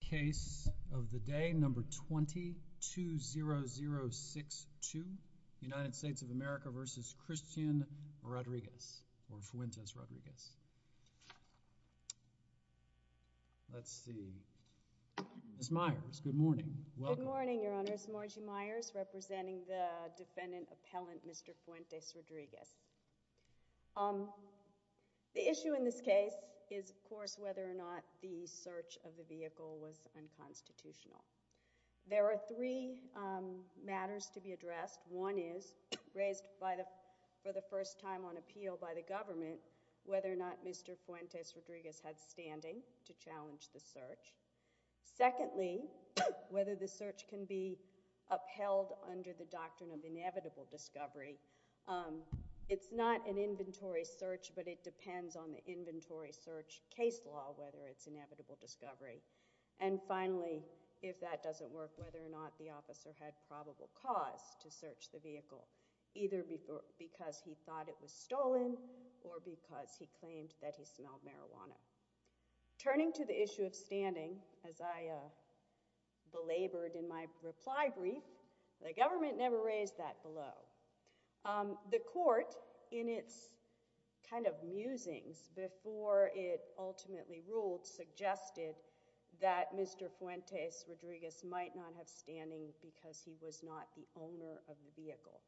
Case of the Day, Number 20-20062, United States of America v. Christian Rodriguez, or Fuentes Rodriguez. Let's see. Ms. Myers, good morning. Welcome. Good morning, Your Honor. It's Margie Myers, representing the defendant appellant, Mr. Fuentes Rodriguez. The issue in this case is, of course, whether or not the search of the vehicle was unconstitutional. There are three matters to be addressed. One is, raised for the first time on appeal by the government, whether or not Mr. Fuentes Secondly, whether the search can be upheld under the doctrine of inevitable discovery. It's not an inventory search, but it depends on the inventory search case law whether it's inevitable discovery. And finally, if that doesn't work, whether or not the officer had probable cause to search the vehicle, either because he thought it was stolen or because he claimed that he smelled marijuana. Turning to the issue of standing, as I belabored in my reply brief, the government never raised that below. The court, in its kind of musings before it ultimately ruled, suggested that Mr. Fuentes Rodriguez might not have standing because he was not the owner of the vehicle.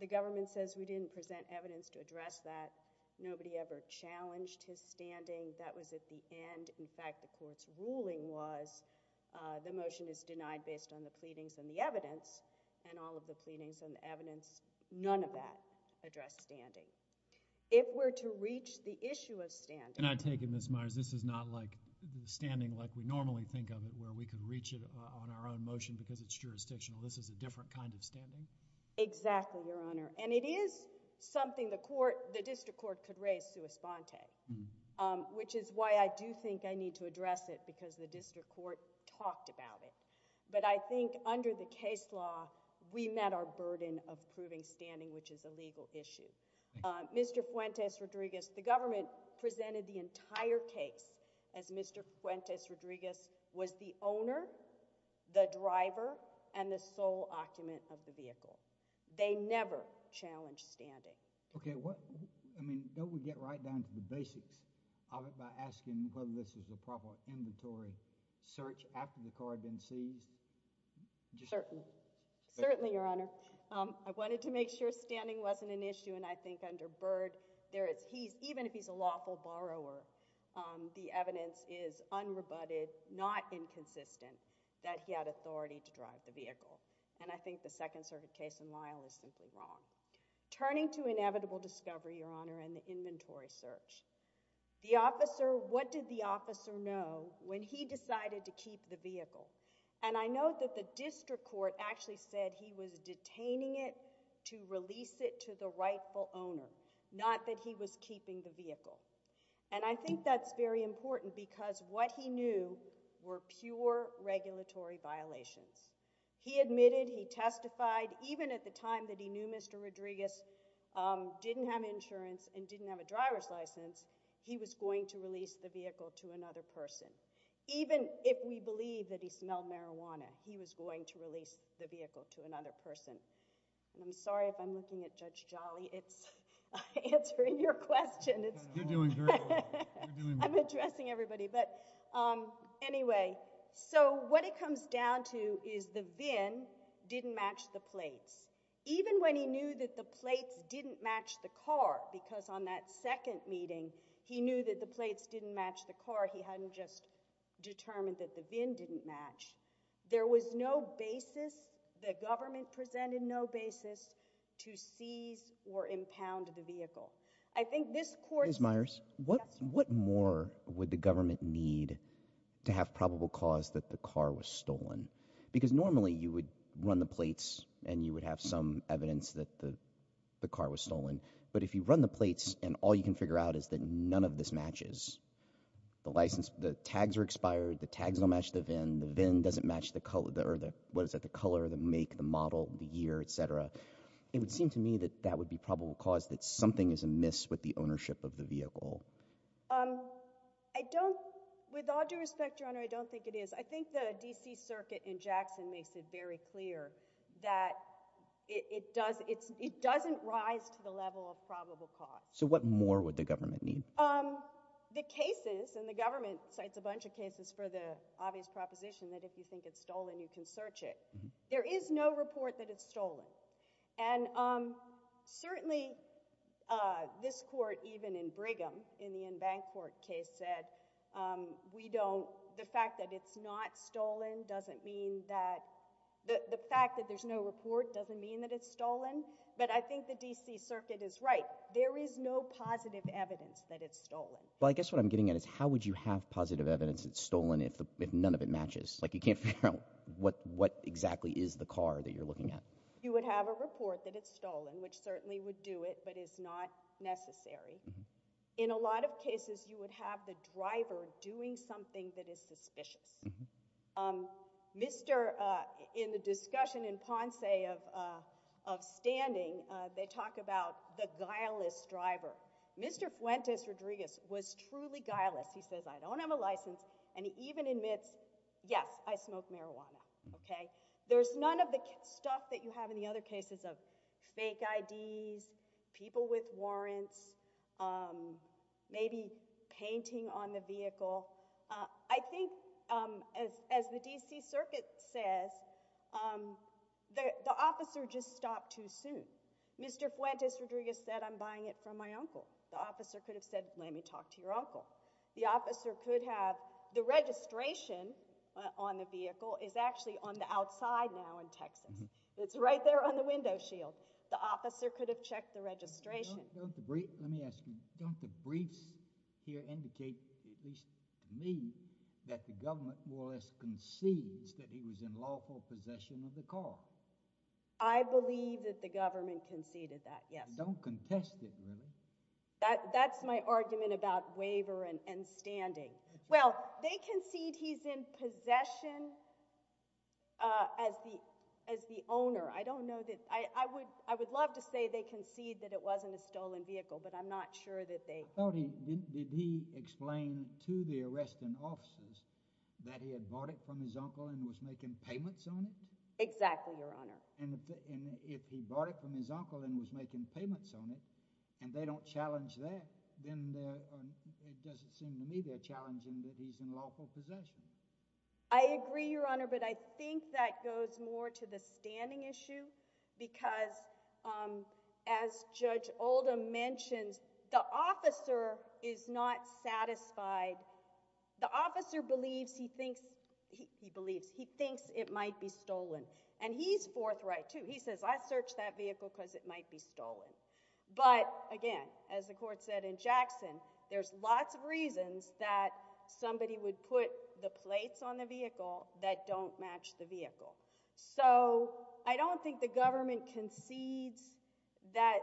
The government says we didn't present evidence to address that. Nobody ever challenged his standing. That was at the end. In fact, the court's ruling was the motion is denied based on the pleadings and the evidence, and all of the pleadings and the evidence, none of that addressed standing. If we're to reach the issue of standing... And I take it, Ms. Myers, this is not like the standing like we normally think of it, where we can reach it on our own motion because it's jurisdictional. This is a different kind of standing? Exactly, Your Honor. It is something the district court could raise sua sponte, which is why I do think I need to address it because the district court talked about it. I think under the case law, we met our burden of proving standing, which is a legal issue. Mr. Fuentes Rodriguez, the government presented the entire case as Mr. Fuentes Rodriguez was the owner, the driver, and the sole occupant of the vehicle. They never challenged standing. Okay, what... I mean, don't we get right down to the basics of it by asking whether this was a proper inventory search after the car had been seized? Certainly, Your Honor. I wanted to make sure standing wasn't an issue, and I think under Byrd, even if he's a lawful borrower, the evidence is unrebutted, not inconsistent, that he had authority to drive the vehicle. I think the Second Circuit case in Lyle is simply wrong. Turning to inevitable discovery, Your Honor, and the inventory search, what did the officer know when he decided to keep the vehicle? I know that the district court actually said he was detaining it to release it to the rightful owner, not that he was keeping the vehicle. I think that's very important because what he knew were pure regulatory violations. He admitted, he testified, even at the time that he knew Mr. Rodriguez didn't have insurance and didn't have a driver's license, he was going to release the vehicle to another person. Even if we believe that he smelled marijuana, he was going to release the vehicle to another person. I'm sorry if I'm looking at Judge Jolly. It's answering your question. You're doing very well. I'm addressing everybody. But anyway, so what it comes down to is the VIN didn't match the plates. Even when he knew that the plates didn't match the car, because on that second meeting, he knew that the plates didn't match the car. He hadn't just determined that the VIN didn't match. There was no basis, the government presented no basis, to seize or impound the vehicle. I think this court— What more would the government need to have probable cause that the car was stolen? Because normally you would run the plates and you would have some evidence that the car was stolen. But if you run the plates and all you can figure out is that none of this matches, the license, the tags are expired, the tags don't match the VIN, the VIN doesn't match the color, or what is it, the color, the make, the model, the year, et cetera. It would seem to me that that would be probable cause that something is amiss with the ownership of the vehicle. I don't—with all due respect, Your Honor, I don't think it is. I think the D.C. Circuit in Jackson makes it very clear that it doesn't rise to the level of probable cause. So what more would the government need? The cases, and the government cites a bunch of cases for the obvious proposition that if you think it's stolen, you can search it. There is no report that it's stolen. And certainly, this Court, even in Brigham, in the in-bank court case, said we don't—the fact that it's not stolen doesn't mean that—the fact that there's no report doesn't mean that it's stolen. But I think the D.C. Circuit is right. There is no positive evidence that it's stolen. Well, I guess what I'm getting at is how would you have positive evidence that it's stolen if none of it matches? Like, you can't figure out what exactly is the car that you're looking at. You would have a report that it's stolen, which certainly would do it, but it's not necessary. In a lot of cases, you would have the driver doing something that is suspicious. Mr.—in the discussion in Ponce of standing, they talk about the guileless driver. Mr. Fuentes Rodriguez was truly guileless. He says, I don't have a license. And he even admits, yes, I smoke marijuana, okay? There's none of the stuff that you have in the other cases of fake IDs, people with warrants, maybe painting on the vehicle. I think, as the D.C. Circuit says, the officer just stopped too soon. Mr. Fuentes Rodriguez said, I'm buying it from my uncle. The officer could have said, let me talk to your uncle. The officer could have—the registration on the vehicle is actually on the outside now in Texas. It's right there on the window shield. The officer could have checked the registration. Let me ask you, don't the briefs here indicate, at least to me, that the government more or less concedes that he was in lawful possession of the car? I believe that the government conceded that, yes. Don't contest it, really. That's my argument about waiver and standing. Well, they concede he's in possession as the owner. I don't know that—I would love to say they concede that it wasn't a stolen vehicle, but I'm not sure that they— I thought he—did he explain to the arresting officers that he had bought it from his uncle and was making payments on it? Exactly, Your Honor. And if he bought it from his uncle and was making payments on it and they don't challenge that, then it doesn't seem to me they're challenging that he's in lawful possession. I agree, Your Honor, but I think that goes more to the standing issue because, as Judge Oldham mentions, the officer is not satisfied. The officer believes he thinks—he believes—he thinks it might be stolen. And he's forthright, too. He says, I searched that vehicle because it might be stolen. But, again, as the court said in Jackson, there's lots of reasons that somebody would put the plates on the vehicle that don't match the vehicle. So I don't think the government concedes that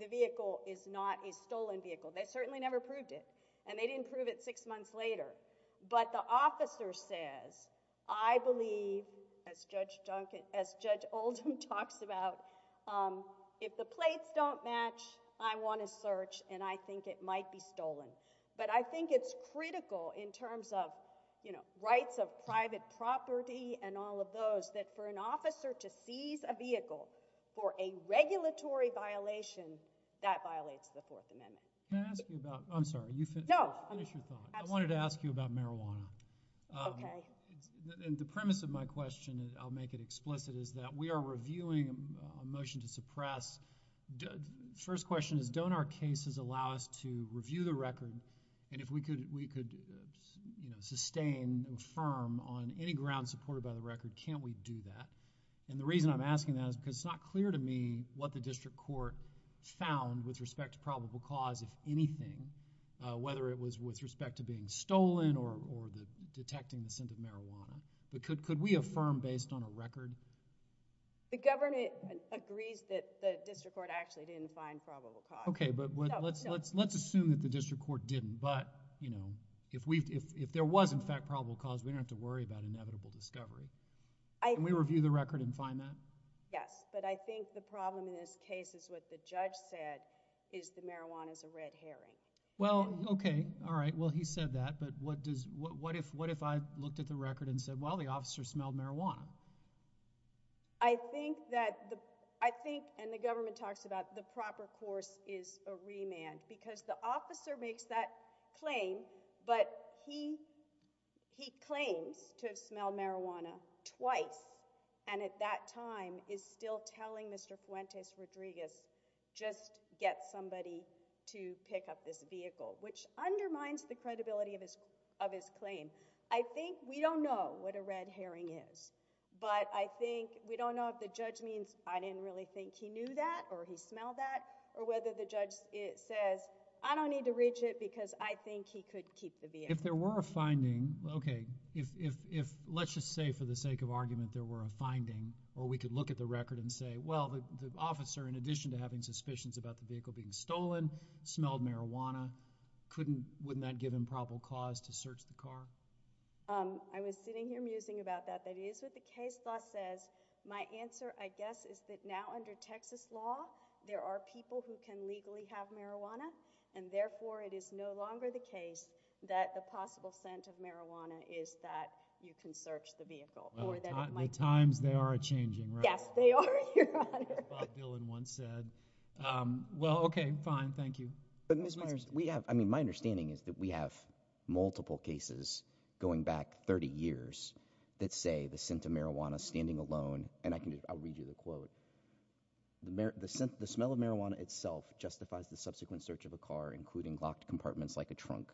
the vehicle is not a stolen vehicle. They certainly never proved it, and they didn't prove it six months later. But the officer says, I believe, as Judge Duncan—as Judge Oldham talks about, if the plates don't match, I want to search, and I think it might be stolen. But I think it's critical in terms of, you know, rights of private property and all of those that for an officer to seize a vehicle for a regulatory violation, that violates the Fourth Amendment. Can I ask you about—I'm sorry, finish your thought. I wanted to ask you about marijuana. And the premise of my question—I'll make it explicit—is that we are reviewing a motion to suppress. First question is, don't our cases allow us to review the record? And if we could, you know, sustain and affirm on any ground supported by the record, can't we do that? And the reason I'm asking that is because it's not clear to me what the district court found with respect to probable cause, if anything, whether it was with respect to being stolen or detecting the scent of marijuana. But could we affirm based on a record? The government agrees that the district court actually didn't find probable cause. Okay, but let's assume that the district court didn't. But, you know, if there was, in fact, probable cause, we don't have to worry about inevitable discovery. Can we review the record and find that? Yes, but I think the problem in this case is what the judge said, is the marijuana is a red herring. Well, okay. All right. Well, he said that. But what does, what if, what if I looked at the record and said, well, the officer smelled marijuana? I think that the, I think, and the government talks about the proper course is a remand because the officer makes that claim, but he, he claims to have smelled marijuana twice and at that time is still telling Mr. Fuentes Rodriguez, just get somebody to pick up this vehicle, which undermines the credibility of his, of his claim. I think, we don't know what a red herring is, but I think, we don't know if the judge means I didn't really think he knew that or he smelled that or whether the judge says, I don't need to reach it because I think he could keep the vehicle. If there were a finding, okay, if, if, if, let's just say for the sake of argument there were a finding or we could look at the record and say, well, the officer, in addition to having suspicions about the vehicle being stolen, smelled marijuana, couldn't, wouldn't that give him probable cause to search the car? I was sitting here musing about that. That is what the case law says. My answer, I guess, is that now under Texas law, there are people who can legally have marijuana and therefore it is no longer the case that the possible scent of marijuana is that you can search the vehicle. Well, the times, they are a changing, right? Yes, they are, Your Honor. As Bob Dylan once said. Well, okay, fine, thank you. But, Ms. Myers, we have, I mean, my understanding is that we have multiple cases going back 30 years that say the scent of marijuana standing alone, and I can, I'll read you the quote. The smell of marijuana itself justifies the subsequent search of a car, including locked compartments like a trunk.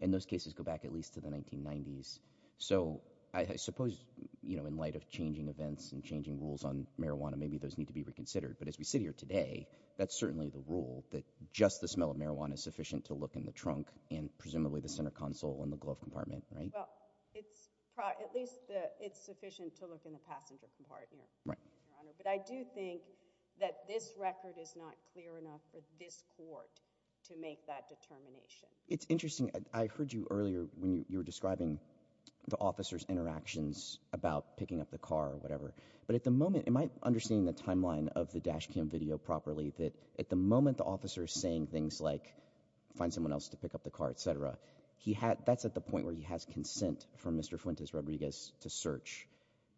And those cases go back at least to the 1990s. So, I suppose, you know, in light of changing events and changing rules on marijuana, maybe those need to be reconsidered. But as we sit here today, that's certainly the rule that just the smell of marijuana is sufficient to look in the trunk and presumably the center console and the glove compartment, right? Well, at least it's sufficient to look in the passenger compartment, Your Honor. But I do think that this record is not clear enough for this court to make that determination. It's interesting. I heard you earlier when you were describing the officer's interactions about picking up the car or whatever. But at the moment, am I understanding the timeline of the dash cam video properly that at the moment the officer is saying things like, find someone else to pick up the car, et cetera, he had, that's at the point where he has consent from Mr. Fuentes Rodriguez to search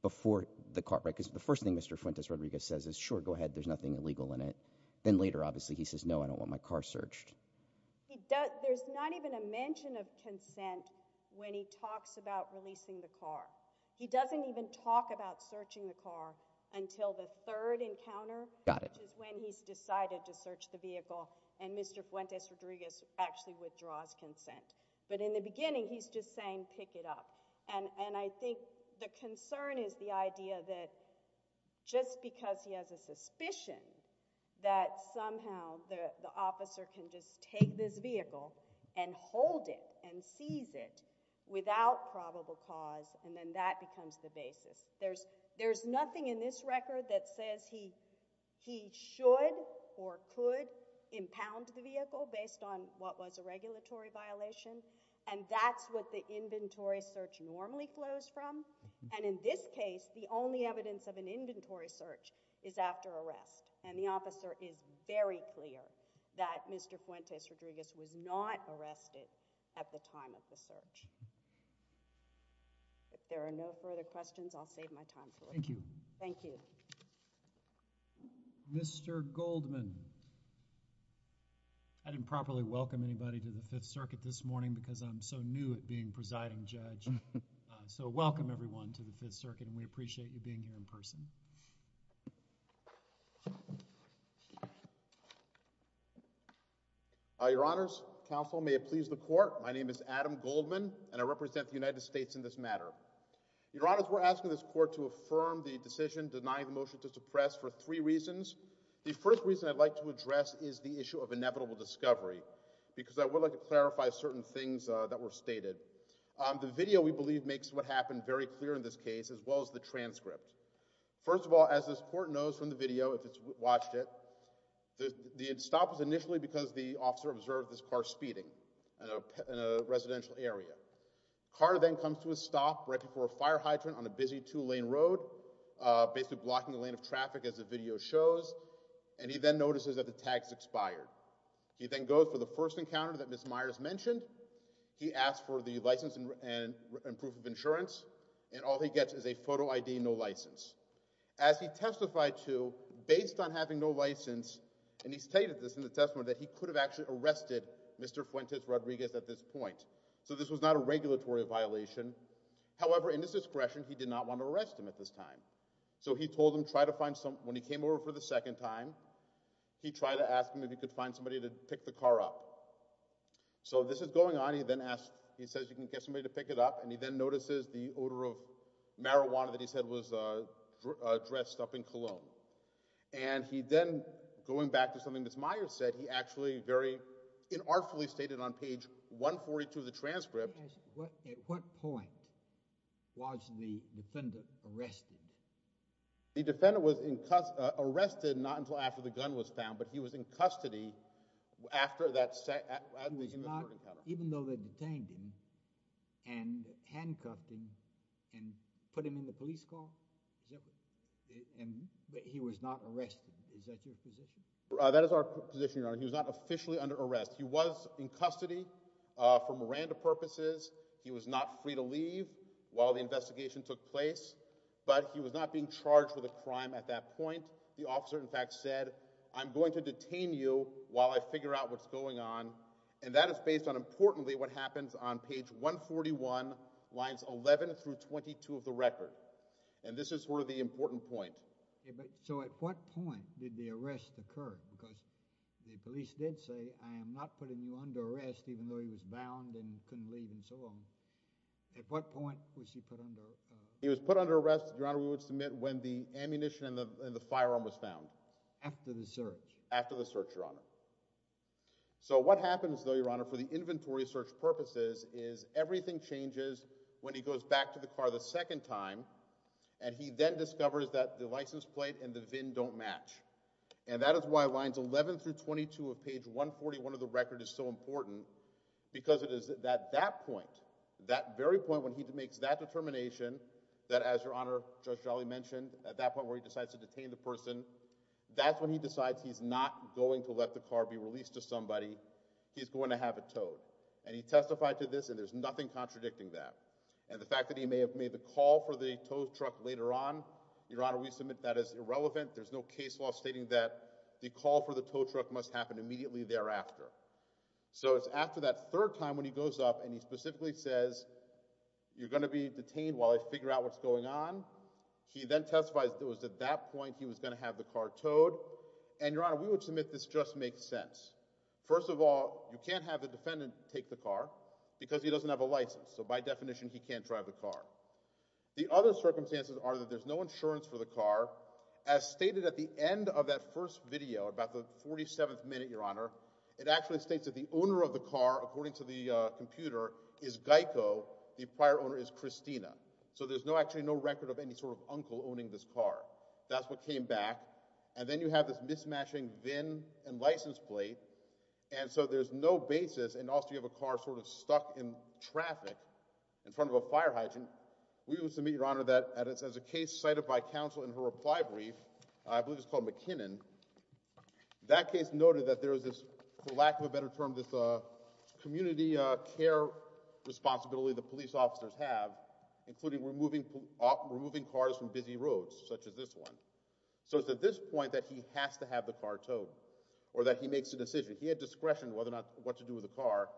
before the car, right? Because the first thing Mr. Fuentes Rodriguez says is, sure, go ahead, there's nothing illegal in it. Then later, obviously, he says, no, I don't want my car searched. There's not even a mention of consent when he talks about releasing the car. He doesn't even talk about searching the car until the third encounter, which is when he's decided to search the vehicle and Mr. Fuentes Rodriguez actually withdraws consent. But in the beginning, he's just saying, pick it up. And I think the concern is the idea that just because he has a suspicion that somehow the officer can just take this vehicle and hold it and seize it without probable cause and then that becomes the basis. There's, there's nothing in this record that says he, he should or could impound the vehicle based on what was a regulatory violation. And that's what the inventory search normally flows from. And in this case, the only evidence of an inventory search is after arrest. And the officer is very clear that Mr. Fuentes Rodriguez was not arrested at the time of the search. If there are no further questions, I'll save my time for later. Thank you. Thank you. Mr. Goldman. I didn't properly welcome anybody to the Fifth Circuit this morning because I'm so new at being presiding judge. So welcome everyone to the Fifth Circuit and we appreciate you being here in person. Your Honors, Counsel, may it please the Court. My name is Adam Goldman and I represent the United States in this matter. Your Honors, we're asking this Court to affirm the decision denying the motion to suppress for three reasons. The first reason I'd like to address is the issue of inevitable discovery because I would like to clarify certain things that were stated. The video we believe makes what happened very clear in this case as well as the transcript. First of all, as this Court knows from the video, if it's watched it, the stop was in a residential area. Carter then comes to a stop right before a fire hydrant on a busy two-lane road, basically blocking the lane of traffic as the video shows, and he then notices that the tag has expired. He then goes for the first encounter that Ms. Myers mentioned. He asks for the license and proof of insurance and all he gets is a photo ID and no license. As he testified to, based on having no license, and he stated this in the testimony, that he could have actually arrested Mr. Fuentes Rodriguez at this point. So this was not a regulatory violation. However, in his discretion, he did not want to arrest him at this time. So he told him, try to find some, when he came over for the second time, he tried to ask him if he could find somebody to pick the car up. So this is going on, he then asks, he says you can get somebody to pick it up, and he then notices the odor of marijuana that he said was dressed up in cologne. And he then, going back to something Ms. Myers said, he actually very inartfully stated on page 142 of the transcript. Let me ask you, at what point was the defender arrested? The defender was arrested not until after the gun was found, but he was in custody after that, after the human trafficking encounter. Even though they detained him and handcuffed him and put him in the police car? Is that right? And he was not arrested. Is that your position? That is our position, Your Honor. He was not officially under arrest. He was in custody for Miranda purposes. He was not free to leave while the investigation took place. But he was not being charged with a crime at that point. The officer, in fact, said, I'm going to detain you while I figure out what's going on. And that is based on, importantly, what happens on page 141, lines 11 through 22 of the record. And this is sort of the important point. So at what point did the arrest occur? Because the police did say, I am not putting you under arrest even though he was bound and couldn't leave and so on. At what point was he put under? He was put under arrest, Your Honor, we would submit when the ammunition and the firearm was found. After the search? After the search, Your Honor. So what happens, though, Your Honor, for the inventory search purposes is everything changes when he goes back to the car the second time and he then discovers that the license plate and the VIN don't match. And that is why lines 11 through 22 of page 141 of the record is so important because it is at that point, that very point when he makes that determination that, as Your Honor, Judge Jolly mentioned, at that point where he decides to detain the person, that's when he decides he's not going to let the car be released to somebody. He's going to have it towed. And he testified to this and there's nothing contradicting that. And the fact that he may have made the call for the tow truck later on, Your Honor, we submit that is irrelevant. There's no case law stating that the call for the tow truck must happen immediately thereafter. So it's after that third time when he goes up and he specifically says, you're going to be detained while I figure out what's going on. He then testifies that it was at that point he was going to have the car towed. And, Your Honor, we would submit this just makes sense. First of all, you can't have the defendant take the car because he doesn't have a license. So by definition, he can't drive the car. The other circumstances are that there's no insurance for the car. As stated at the end of that first video, about the 47th minute, Your Honor, it actually states that the owner of the car, according to the computer, is Geico. The prior owner is Christina. So there's no actually no record of any sort of uncle owning this car. That's what came back. And then you have this mismatching VIN and license plate. And so there's no basis. And also, you have a car sort of stuck in traffic in front of a fire hydrant. We would submit, Your Honor, that as a case cited by counsel in her reply brief, I believe it's called McKinnon. That case noted that there was this, for lack of a better term, this community care responsibility the police officers have, including removing cars from busy roads such as this one. So it's at this point that he has to have the car towed or that he makes a decision. He had discretion whether or not what to do with the car.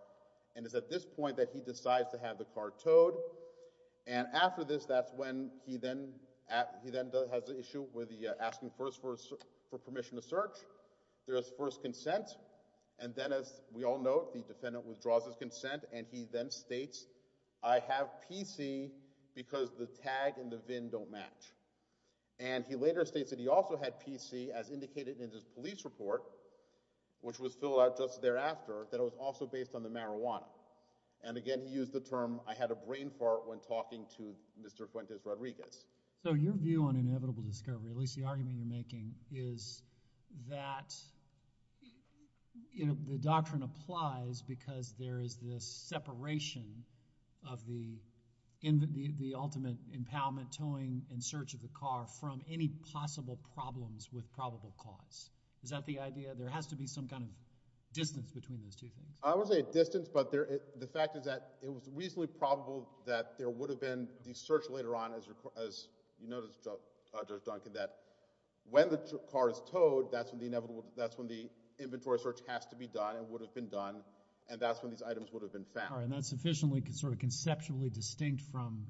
And it's at this point that he decides to have the car towed. And after this, that's when he then has an issue with the asking first for permission to search. There is first consent. And then, as we all know, the defendant withdraws his consent. And he then states, I have PC because the tag and the VIN don't match. And he later states that he also had PC, as indicated in his police report, which was filled out just thereafter, that it was also based on the marijuana. And again, he used the term, I had a brain fart when talking to Mr. Fuentes Rodriguez. So your view on inevitable discovery, at least the argument you're making, is that, you know, the doctrine applies because there is this separation of the ultimate impoundment, in search of the car, from any possible problems with probable cause. Is that the idea? There has to be some kind of distance between those two things. I wouldn't say a distance, but the fact is that it was reasonably probable that there would have been the search later on, as you noticed, Judge Duncan, that when the car is towed, that's when the inventory search has to be done and would have been done. All right. And that's sufficiently sort of conceptually distinct from,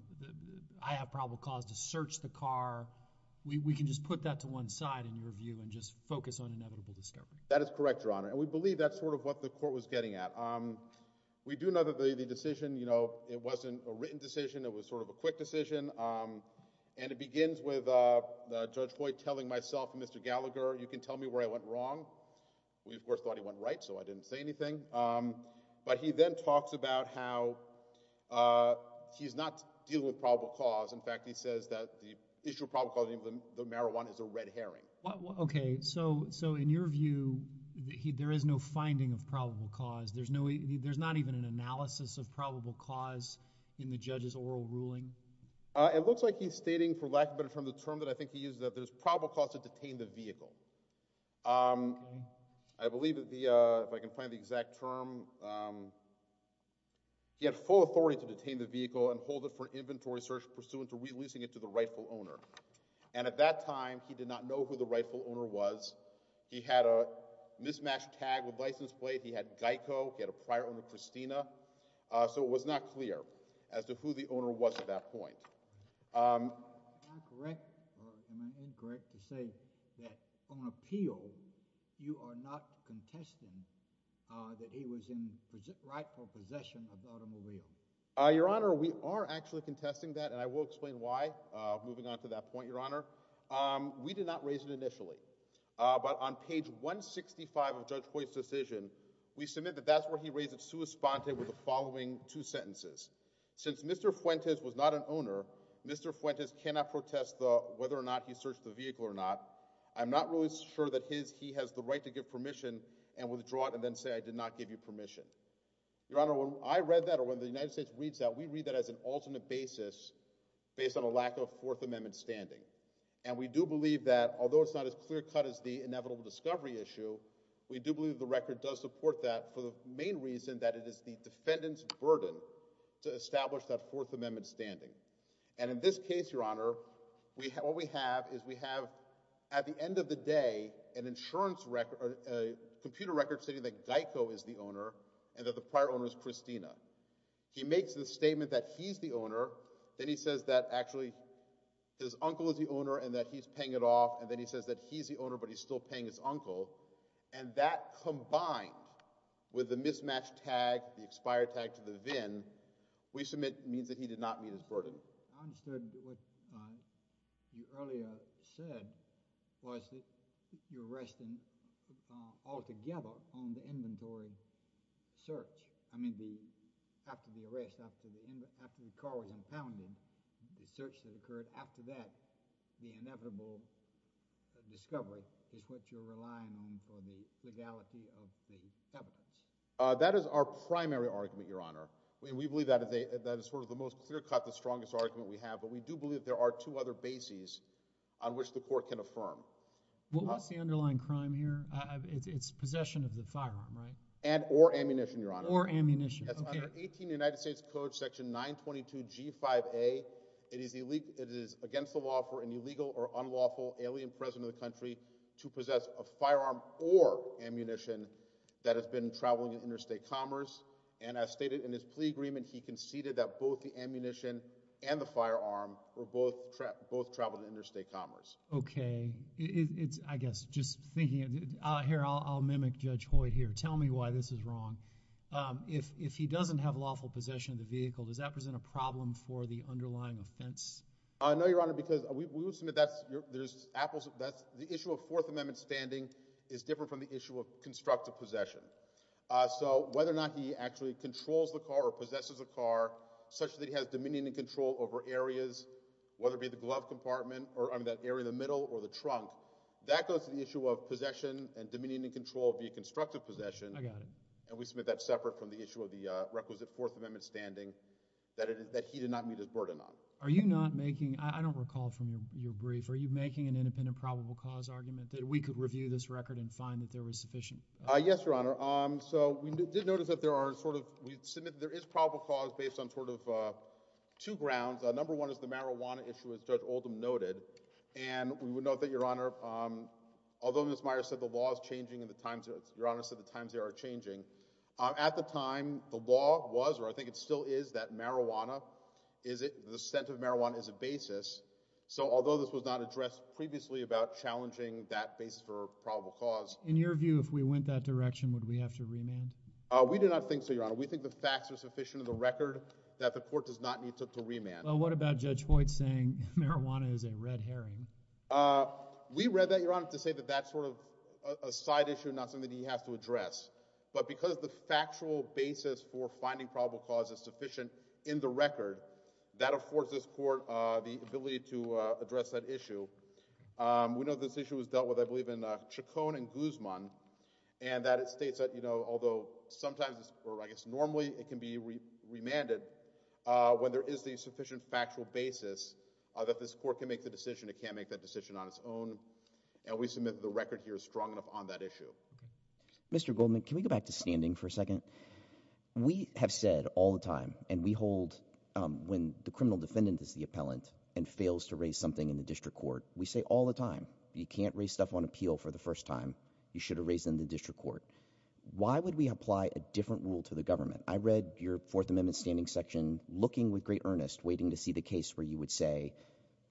I have probable cause to search the car. We can just put that to one side, in your view, and just focus on inevitable discovery. That is correct, Your Honor. And we believe that's sort of what the court was getting at. We do know that the decision, you know, it wasn't a written decision. It was sort of a quick decision. And it begins with Judge Hoyt telling myself and Mr. Gallagher, you can tell me where I went wrong. We, of course, thought he went right, so I didn't say anything. But he then talks about how he's not dealing with probable cause. In fact, he says that the issue of probable cause of the marijuana is a red herring. Okay. So in your view, there is no finding of probable cause. There's not even an analysis of probable cause in the judge's oral ruling? It looks like he's stating, for lack of a better term, the term that I think he uses, that there's probable cause to detain the vehicle. Okay. I believe that the, if I can find the exact term, he had full authority to detain the vehicle and hold it for an inventory search pursuant to releasing it to the rightful owner. And at that time, he did not know who the rightful owner was. He had a mismatched tag with license plate. He had GEICO. He had a prior owner, Christina. So it was not clear as to who the owner was at that point. Am I correct or am I incorrect to say that on appeal, you are not contesting that he was in rightful possession of the automobile? Your Honor, we are actually contesting that. And I will explain why, moving on to that point, Your Honor. We did not raise it initially. But on page 165 of Judge Hoyle's decision, we submit that that's where he raised it sua sponte with the following two sentences. Since Mr. Fuentes was not an owner, Mr. Fuentes cannot protest whether or not he searched the vehicle or not. I'm not really sure that he has the right to give permission and withdraw it and then say I did not give you permission. Your Honor, when I read that or when the United States reads that, we read that as an alternate basis based on a lack of Fourth Amendment standing. And we do believe that, although it's not as clear cut as the inevitable discovery issue, we do believe the record does support that for the main reason that it is the defendant's to establish that Fourth Amendment standing. And in this case, Your Honor, what we have is we have, at the end of the day, an insurance record, a computer record stating that Geico is the owner and that the prior owner is Christina. He makes the statement that he's the owner. Then he says that actually his uncle is the owner and that he's paying it off. And then he says that he's the owner, but he's still paying his uncle. And that combined with the mismatched tag, the expired tag to the VIN, we submit means that he did not meet his burden. I understood what you earlier said was that you're resting altogether on the inventory search. I mean, after the arrest, after the car was impounded, the search that occurred after that, the inevitable discovery is what you're relying on for the legality of the evidence. That is our primary argument, Your Honor. We believe that is sort of the most clear cut, the strongest argument we have. But we do believe there are two other bases on which the court can affirm. What's the underlying crime here? It's possession of the firearm, right? And or ammunition, Your Honor. Or ammunition. Under 18 United States Code section 922 G5A, it is against the law for an illegal or unlawful alien president of the country to possess a firearm or ammunition that has been traveling in interstate commerce. And as stated in his plea agreement, he conceded that both the ammunition and the firearm were both traveled to interstate commerce. Okay. I guess just thinking here, I'll mimic Judge Hoyt here. Tell me why this is wrong. If he doesn't have lawful possession of the vehicle, does that present a problem for the underlying offense? No, Your Honor, because we would submit that's, there's apples, that's the issue of Fourth Amendment standing is different from the issue of constructive possession. So whether or not he actually controls the car or possesses a car such that he has dominion and control over areas, whether it be the glove compartment or that area in the middle or the trunk, that goes to the issue of possession and dominion and control via constructive possession. I got it. And we submit that separate from the issue of the requisite Fourth Amendment standing that he did not meet his burden on. Are you not making, I don't recall from your brief, are you making an independent probable cause argument that we could review this record and find that there was sufficient? Yes, Your Honor. So we did notice that there are sort of, we submit there is probable cause based on sort of two grounds. Number one is the marijuana issue, as Judge Oldham noted. And we would note that, Your Honor, although Ms. Myers said the law is changing and the times are changing, at the time the law was, or I think it still is, that marijuana, the scent of marijuana is a basis. So although this was not addressed previously about challenging that basis for probable cause. In your view, if we went that direction, would we have to remand? We do not think so, Your Honor. We think the facts are sufficient in the record that the court does not need to remand. What about Judge Hoyt saying marijuana is a red herring? We read that, Your Honor, to say that that's sort of a side issue, not something he has to address. But because the factual basis for finding probable cause is sufficient in the record, that affords this court the ability to address that issue. We know this issue was dealt with, I believe, in Chacon and Guzman, and that it states that, you know, although sometimes, or I guess normally, it can be remanded when there is the sufficient factual basis that this court can make the decision. It can't make that decision on its own. And we submit the record here is strong enough on that issue. Mr. Goldman, can we go back to standing for a second? We have said all the time, and we hold when the criminal defendant is the appellant and fails to raise something in the district court, we say all the time, you can't raise stuff on appeal for the first time. You should have raised in the district court. Why would we apply a different rule to the government? I read your Fourth Amendment standing section, looking with great earnest, waiting to see the case where you would say,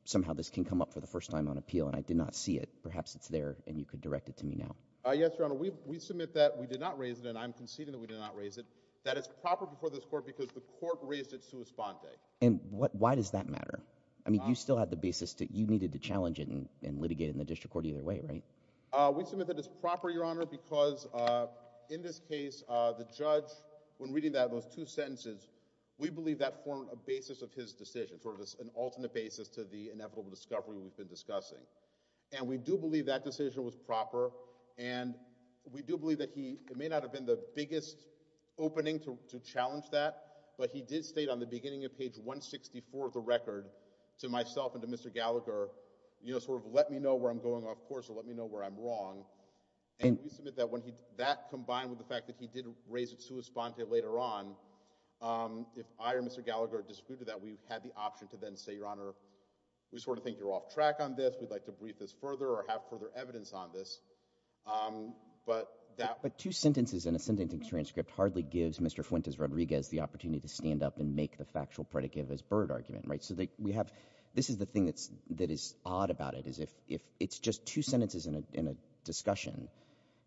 somehow this can come up for the first time on appeal, and I did not see it. Perhaps it's there, and you could direct it to me now. Yes, Your Honor, we submit that we did not raise it, and I'm conceding that we did not raise it, that it's proper before this court because the court raised it sua sponte. And why does that matter? I mean, you still had the basis that you needed to challenge it and litigate in the district court either way, right? We submit that it's proper, Your Honor, because in this case, the judge, when reading those two sentences, we believe that formed a basis of his decision, sort of an alternate basis to the inevitable discovery we've been discussing. And we do believe that decision was proper, and we do believe that he, it may not have been the biggest opening to challenge that, but he did state on the beginning of page 164 of the record to myself and to Mr. Gallagher, you know, sort of let me know where I'm going off course or let me know where I'm wrong, and we submit that when he, that combined with the fact that he did raise it sua sponte later on, if I or Mr. Gallagher disputed that, we had the option to then say, Your Honor, we sort of think you're off track on this, we'd like to brief this further or have further evidence on this, but that— But two sentences in a sentencing transcript hardly gives Mr. Fuentes-Rodriguez the opportunity to stand up and make the factual predicate of his Byrd argument, right? So we have, this is the thing that's, that is odd about it, is if it's just two sentences in a discussion,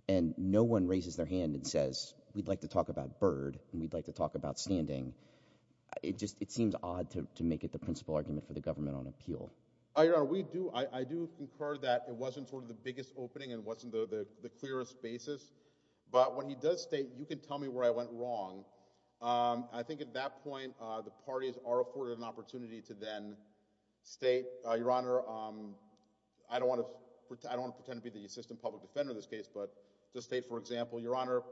and no one raises their hand and says, we'd like to talk about Byrd, and we'd like to talk about standing, it just, it seems odd to make it the principal argument for the government on appeal. Your Honor, we do, I do concur that it wasn't sort of the biggest opening and wasn't the clearest basis, but when he does state, you can tell me where I went wrong, I think at that point the parties are afforded an opportunity to then state, Your Honor, I don't want to, I don't want to pretend to be the assistant public defender in this case, but to state, for example, Your Honor,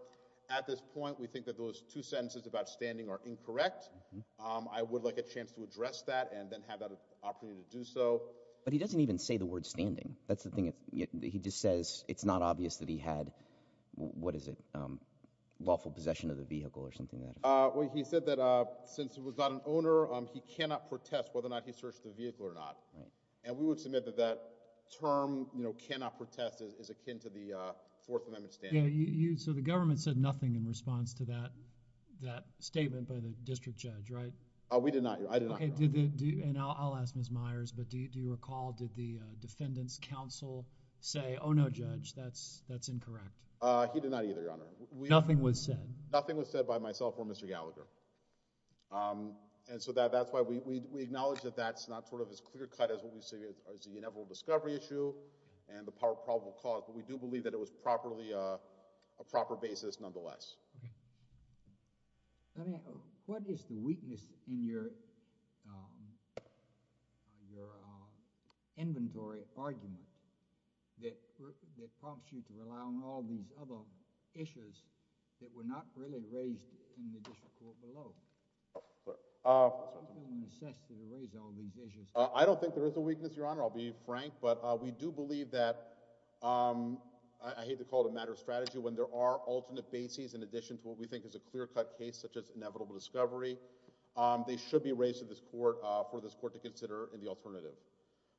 at this point we think that those two sentences about standing are incorrect, I would like a chance to address that and then have that opportunity to do so. But he doesn't even say the word standing, that's the thing, he just says it's not obvious that he had, what is it, lawful possession of the vehicle or something like that. Well, he said that since he was not an owner, he cannot protest whether or not he searched the vehicle or not, and we would submit that that term, you know, cannot protest is akin to the Fourth Amendment standing. Yeah, you, so the government said nothing in response to that, that statement by the We did not, I did not, Your Honor. And I'll ask Ms. Myers, but do you recall, did the defendant's counsel say, oh no, Judge, that's, that's incorrect? He did not either, Your Honor. Nothing was said? Nothing was said by myself or Mr. Gallagher. And so that's why we acknowledge that that's not sort of as clear cut as what we see as the inevitable discovery issue and the probable cause, but we do believe that it was properly, a proper basis nonetheless. Okay. Let me, what is the weakness in your, your inventory argument that prompts you to rely on all these other issues that were not really raised in the district court below? I don't think there is a weakness, Your Honor, I'll be frank, but we do believe that, I hate to call it a matter of strategy, when there are alternate bases in addition to what we think is a clear cut case such as inevitable discovery, they should be raised to this court for this court to consider in the alternative.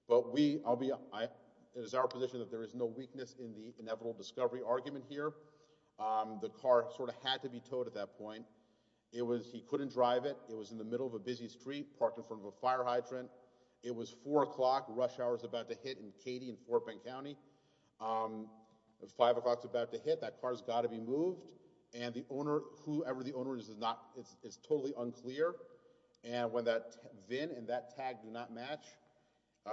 But we, I'll be, I, it is our position that there is no weakness in the inevitable discovery argument here. The car sort of had to be towed at that point. It was, he couldn't drive it, it was in the middle of a busy street parked in front of a fire hydrant. It was four o'clock, rush hour is about to hit in Katy and Fort Bend County. It was five o'clock, it's about to hit, that car's got to be moved, and the owner, whoever the owner is, is not, it's totally unclear, and when that VIN and that tag do not match,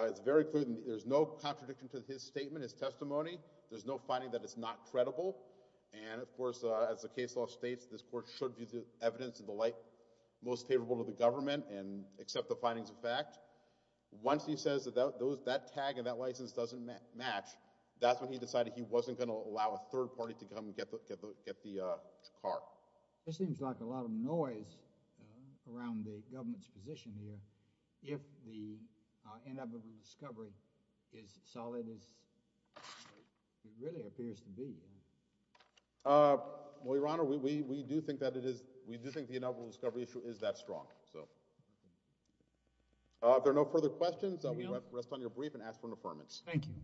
it's very clear, there's no contradiction to his statement, his testimony, there's no finding that it's not credible, and of course, as the case law states, this court should view the evidence in the light most favorable to the government and accept the findings of fact. Once he says that those, that tag and that license doesn't match, that's when he decided he wasn't going to allow a third party to come get the, get the, get the car. It seems like a lot of noise around the government's position here if the inevitable discovery is solid as it really appears to be. Well, Your Honor, we, we, we do think that it is, we do think the inevitable discovery issue is that strong, so. If there are no further questions, I will rest on your brief and ask for an affirmance. Thank you.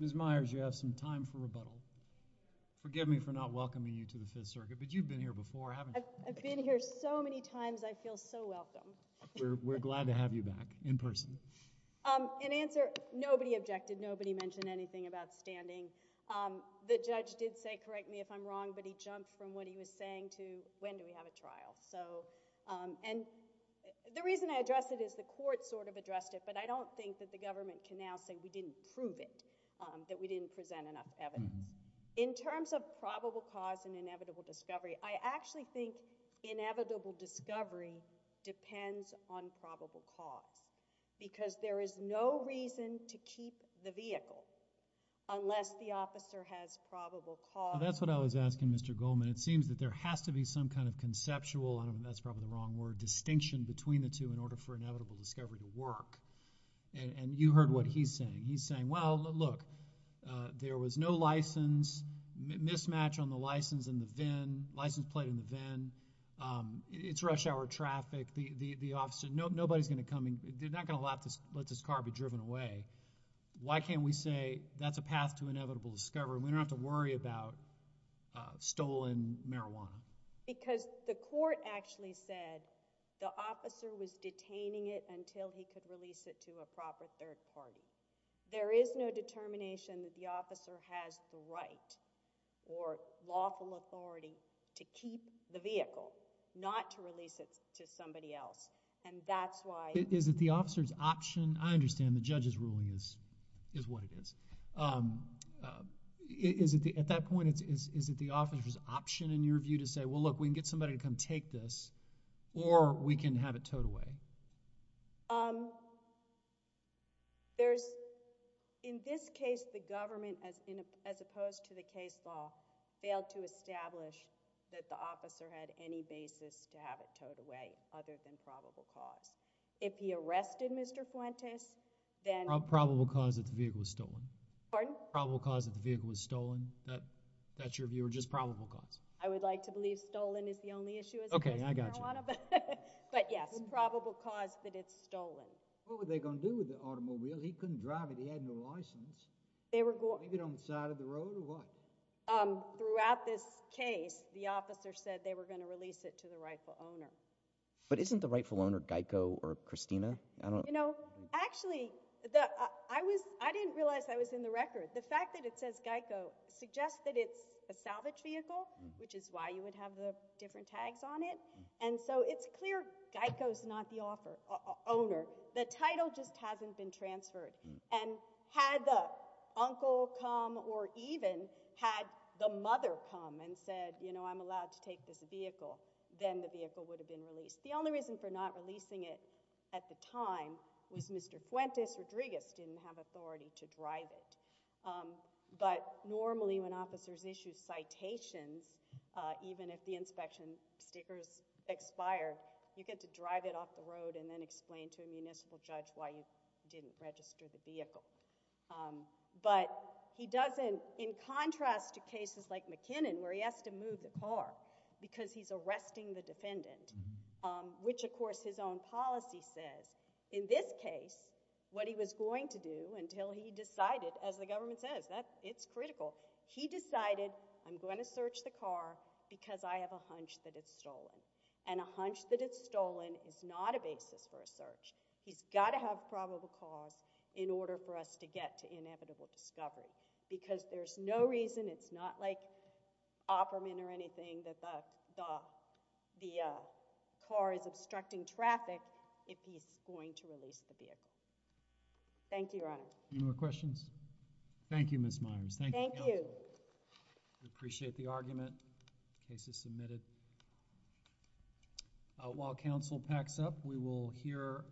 Ms. Myers, you have some time for rebuttal. Forgive me for not welcoming you to the Fifth Circuit, but you've been here before, haven't you? I've been here so many times, I feel so welcome. We're glad to have you back, in person. In answer, nobody objected, nobody mentioned anything about standing. The judge did say, correct me if I'm wrong, but he jumped from what he was saying to when do we have a trial, so. And the reason I address it is the court sort of addressed it, but I don't think that the government can now say we didn't prove it, that we didn't present enough evidence. In terms of probable cause and inevitable discovery, I actually think inevitable discovery depends on probable cause, because there is no reason to keep the vehicle unless the officer has probable cause. That's what I was asking, Mr. Goldman. It seems that there has to be some kind of conceptual, I don't know, that's probably the wrong word, distinction between the two in order for inevitable discovery to work. And you heard what he's saying. He's saying, well, look, there was no license, mismatch on the license in the VIN, license plate in the VIN, it's rush hour traffic, the officer, nobody's going to come in, they're not going to let this car be driven away. Why can't we say that's a path to inevitable discovery? We don't have to worry about stolen marijuana. Because the court actually said the officer was detaining it until he could release it to a proper third party. There is no determination that the officer has the right or lawful authority to keep the vehicle, not to release it to somebody else, and that's why— Is it the officer's option? I understand the judge's ruling is what it is. At that point, is it the officer's option in your view to say, well, look, we can get somebody to come take this or we can have it towed away? In this case, the government, as opposed to the case law, failed to establish that the officer had any basis to have it towed away other than probable cause. If he arrested Mr. Fuentes, then— Probable cause that the vehicle was stolen. Pardon? Probable cause that the vehicle was stolen. That's your view, or just probable cause? I would like to believe stolen is the only issue as opposed to marijuana, but yes, probable cause that it's stolen. What were they going to do with the automobile? He couldn't drive it. He had no license. Leave it on the side of the road or what? Throughout this case, the officer said they were going to release it to the rightful owner. But isn't the rightful owner Geico or Christina? You know, actually, I didn't realize I was in the record. The fact that it says Geico suggests that it's a salvage vehicle, which is why you would have the different tags on it. And so it's clear Geico's not the owner. The title just hasn't been transferred. And had the uncle come or even had the mother come and said, you know, I'm allowed to take this vehicle, then the vehicle would have been released. The only reason for not releasing it at the time was Mr. Fuentes Rodriguez didn't have authority to drive it. But normally when officers issue citations, even if the inspection sticker's expired, you get to drive it off the road and then explain to a municipal judge why you didn't register the vehicle. But he doesn't, in contrast to cases like McKinnon where he has to move the car because he's arresting the defendant, which, of course, his own policy says. In this case, what he was going to do until he decided, as the government says, it's critical, he decided I'm going to search the car because I have a hunch that it's stolen. And a hunch that it's stolen is not a basis for a search. He's got to have probable cause in order for us to get to inevitable discovery. Because there's no reason, it's not like offerment or anything that the car is obstructing traffic if he's going to release the vehicle. Thank you, Your Honor. Any more questions? Thank you, Ms. Myers. Thank you. We appreciate the argument. Case is submitted. While counsel packs up, we will hear.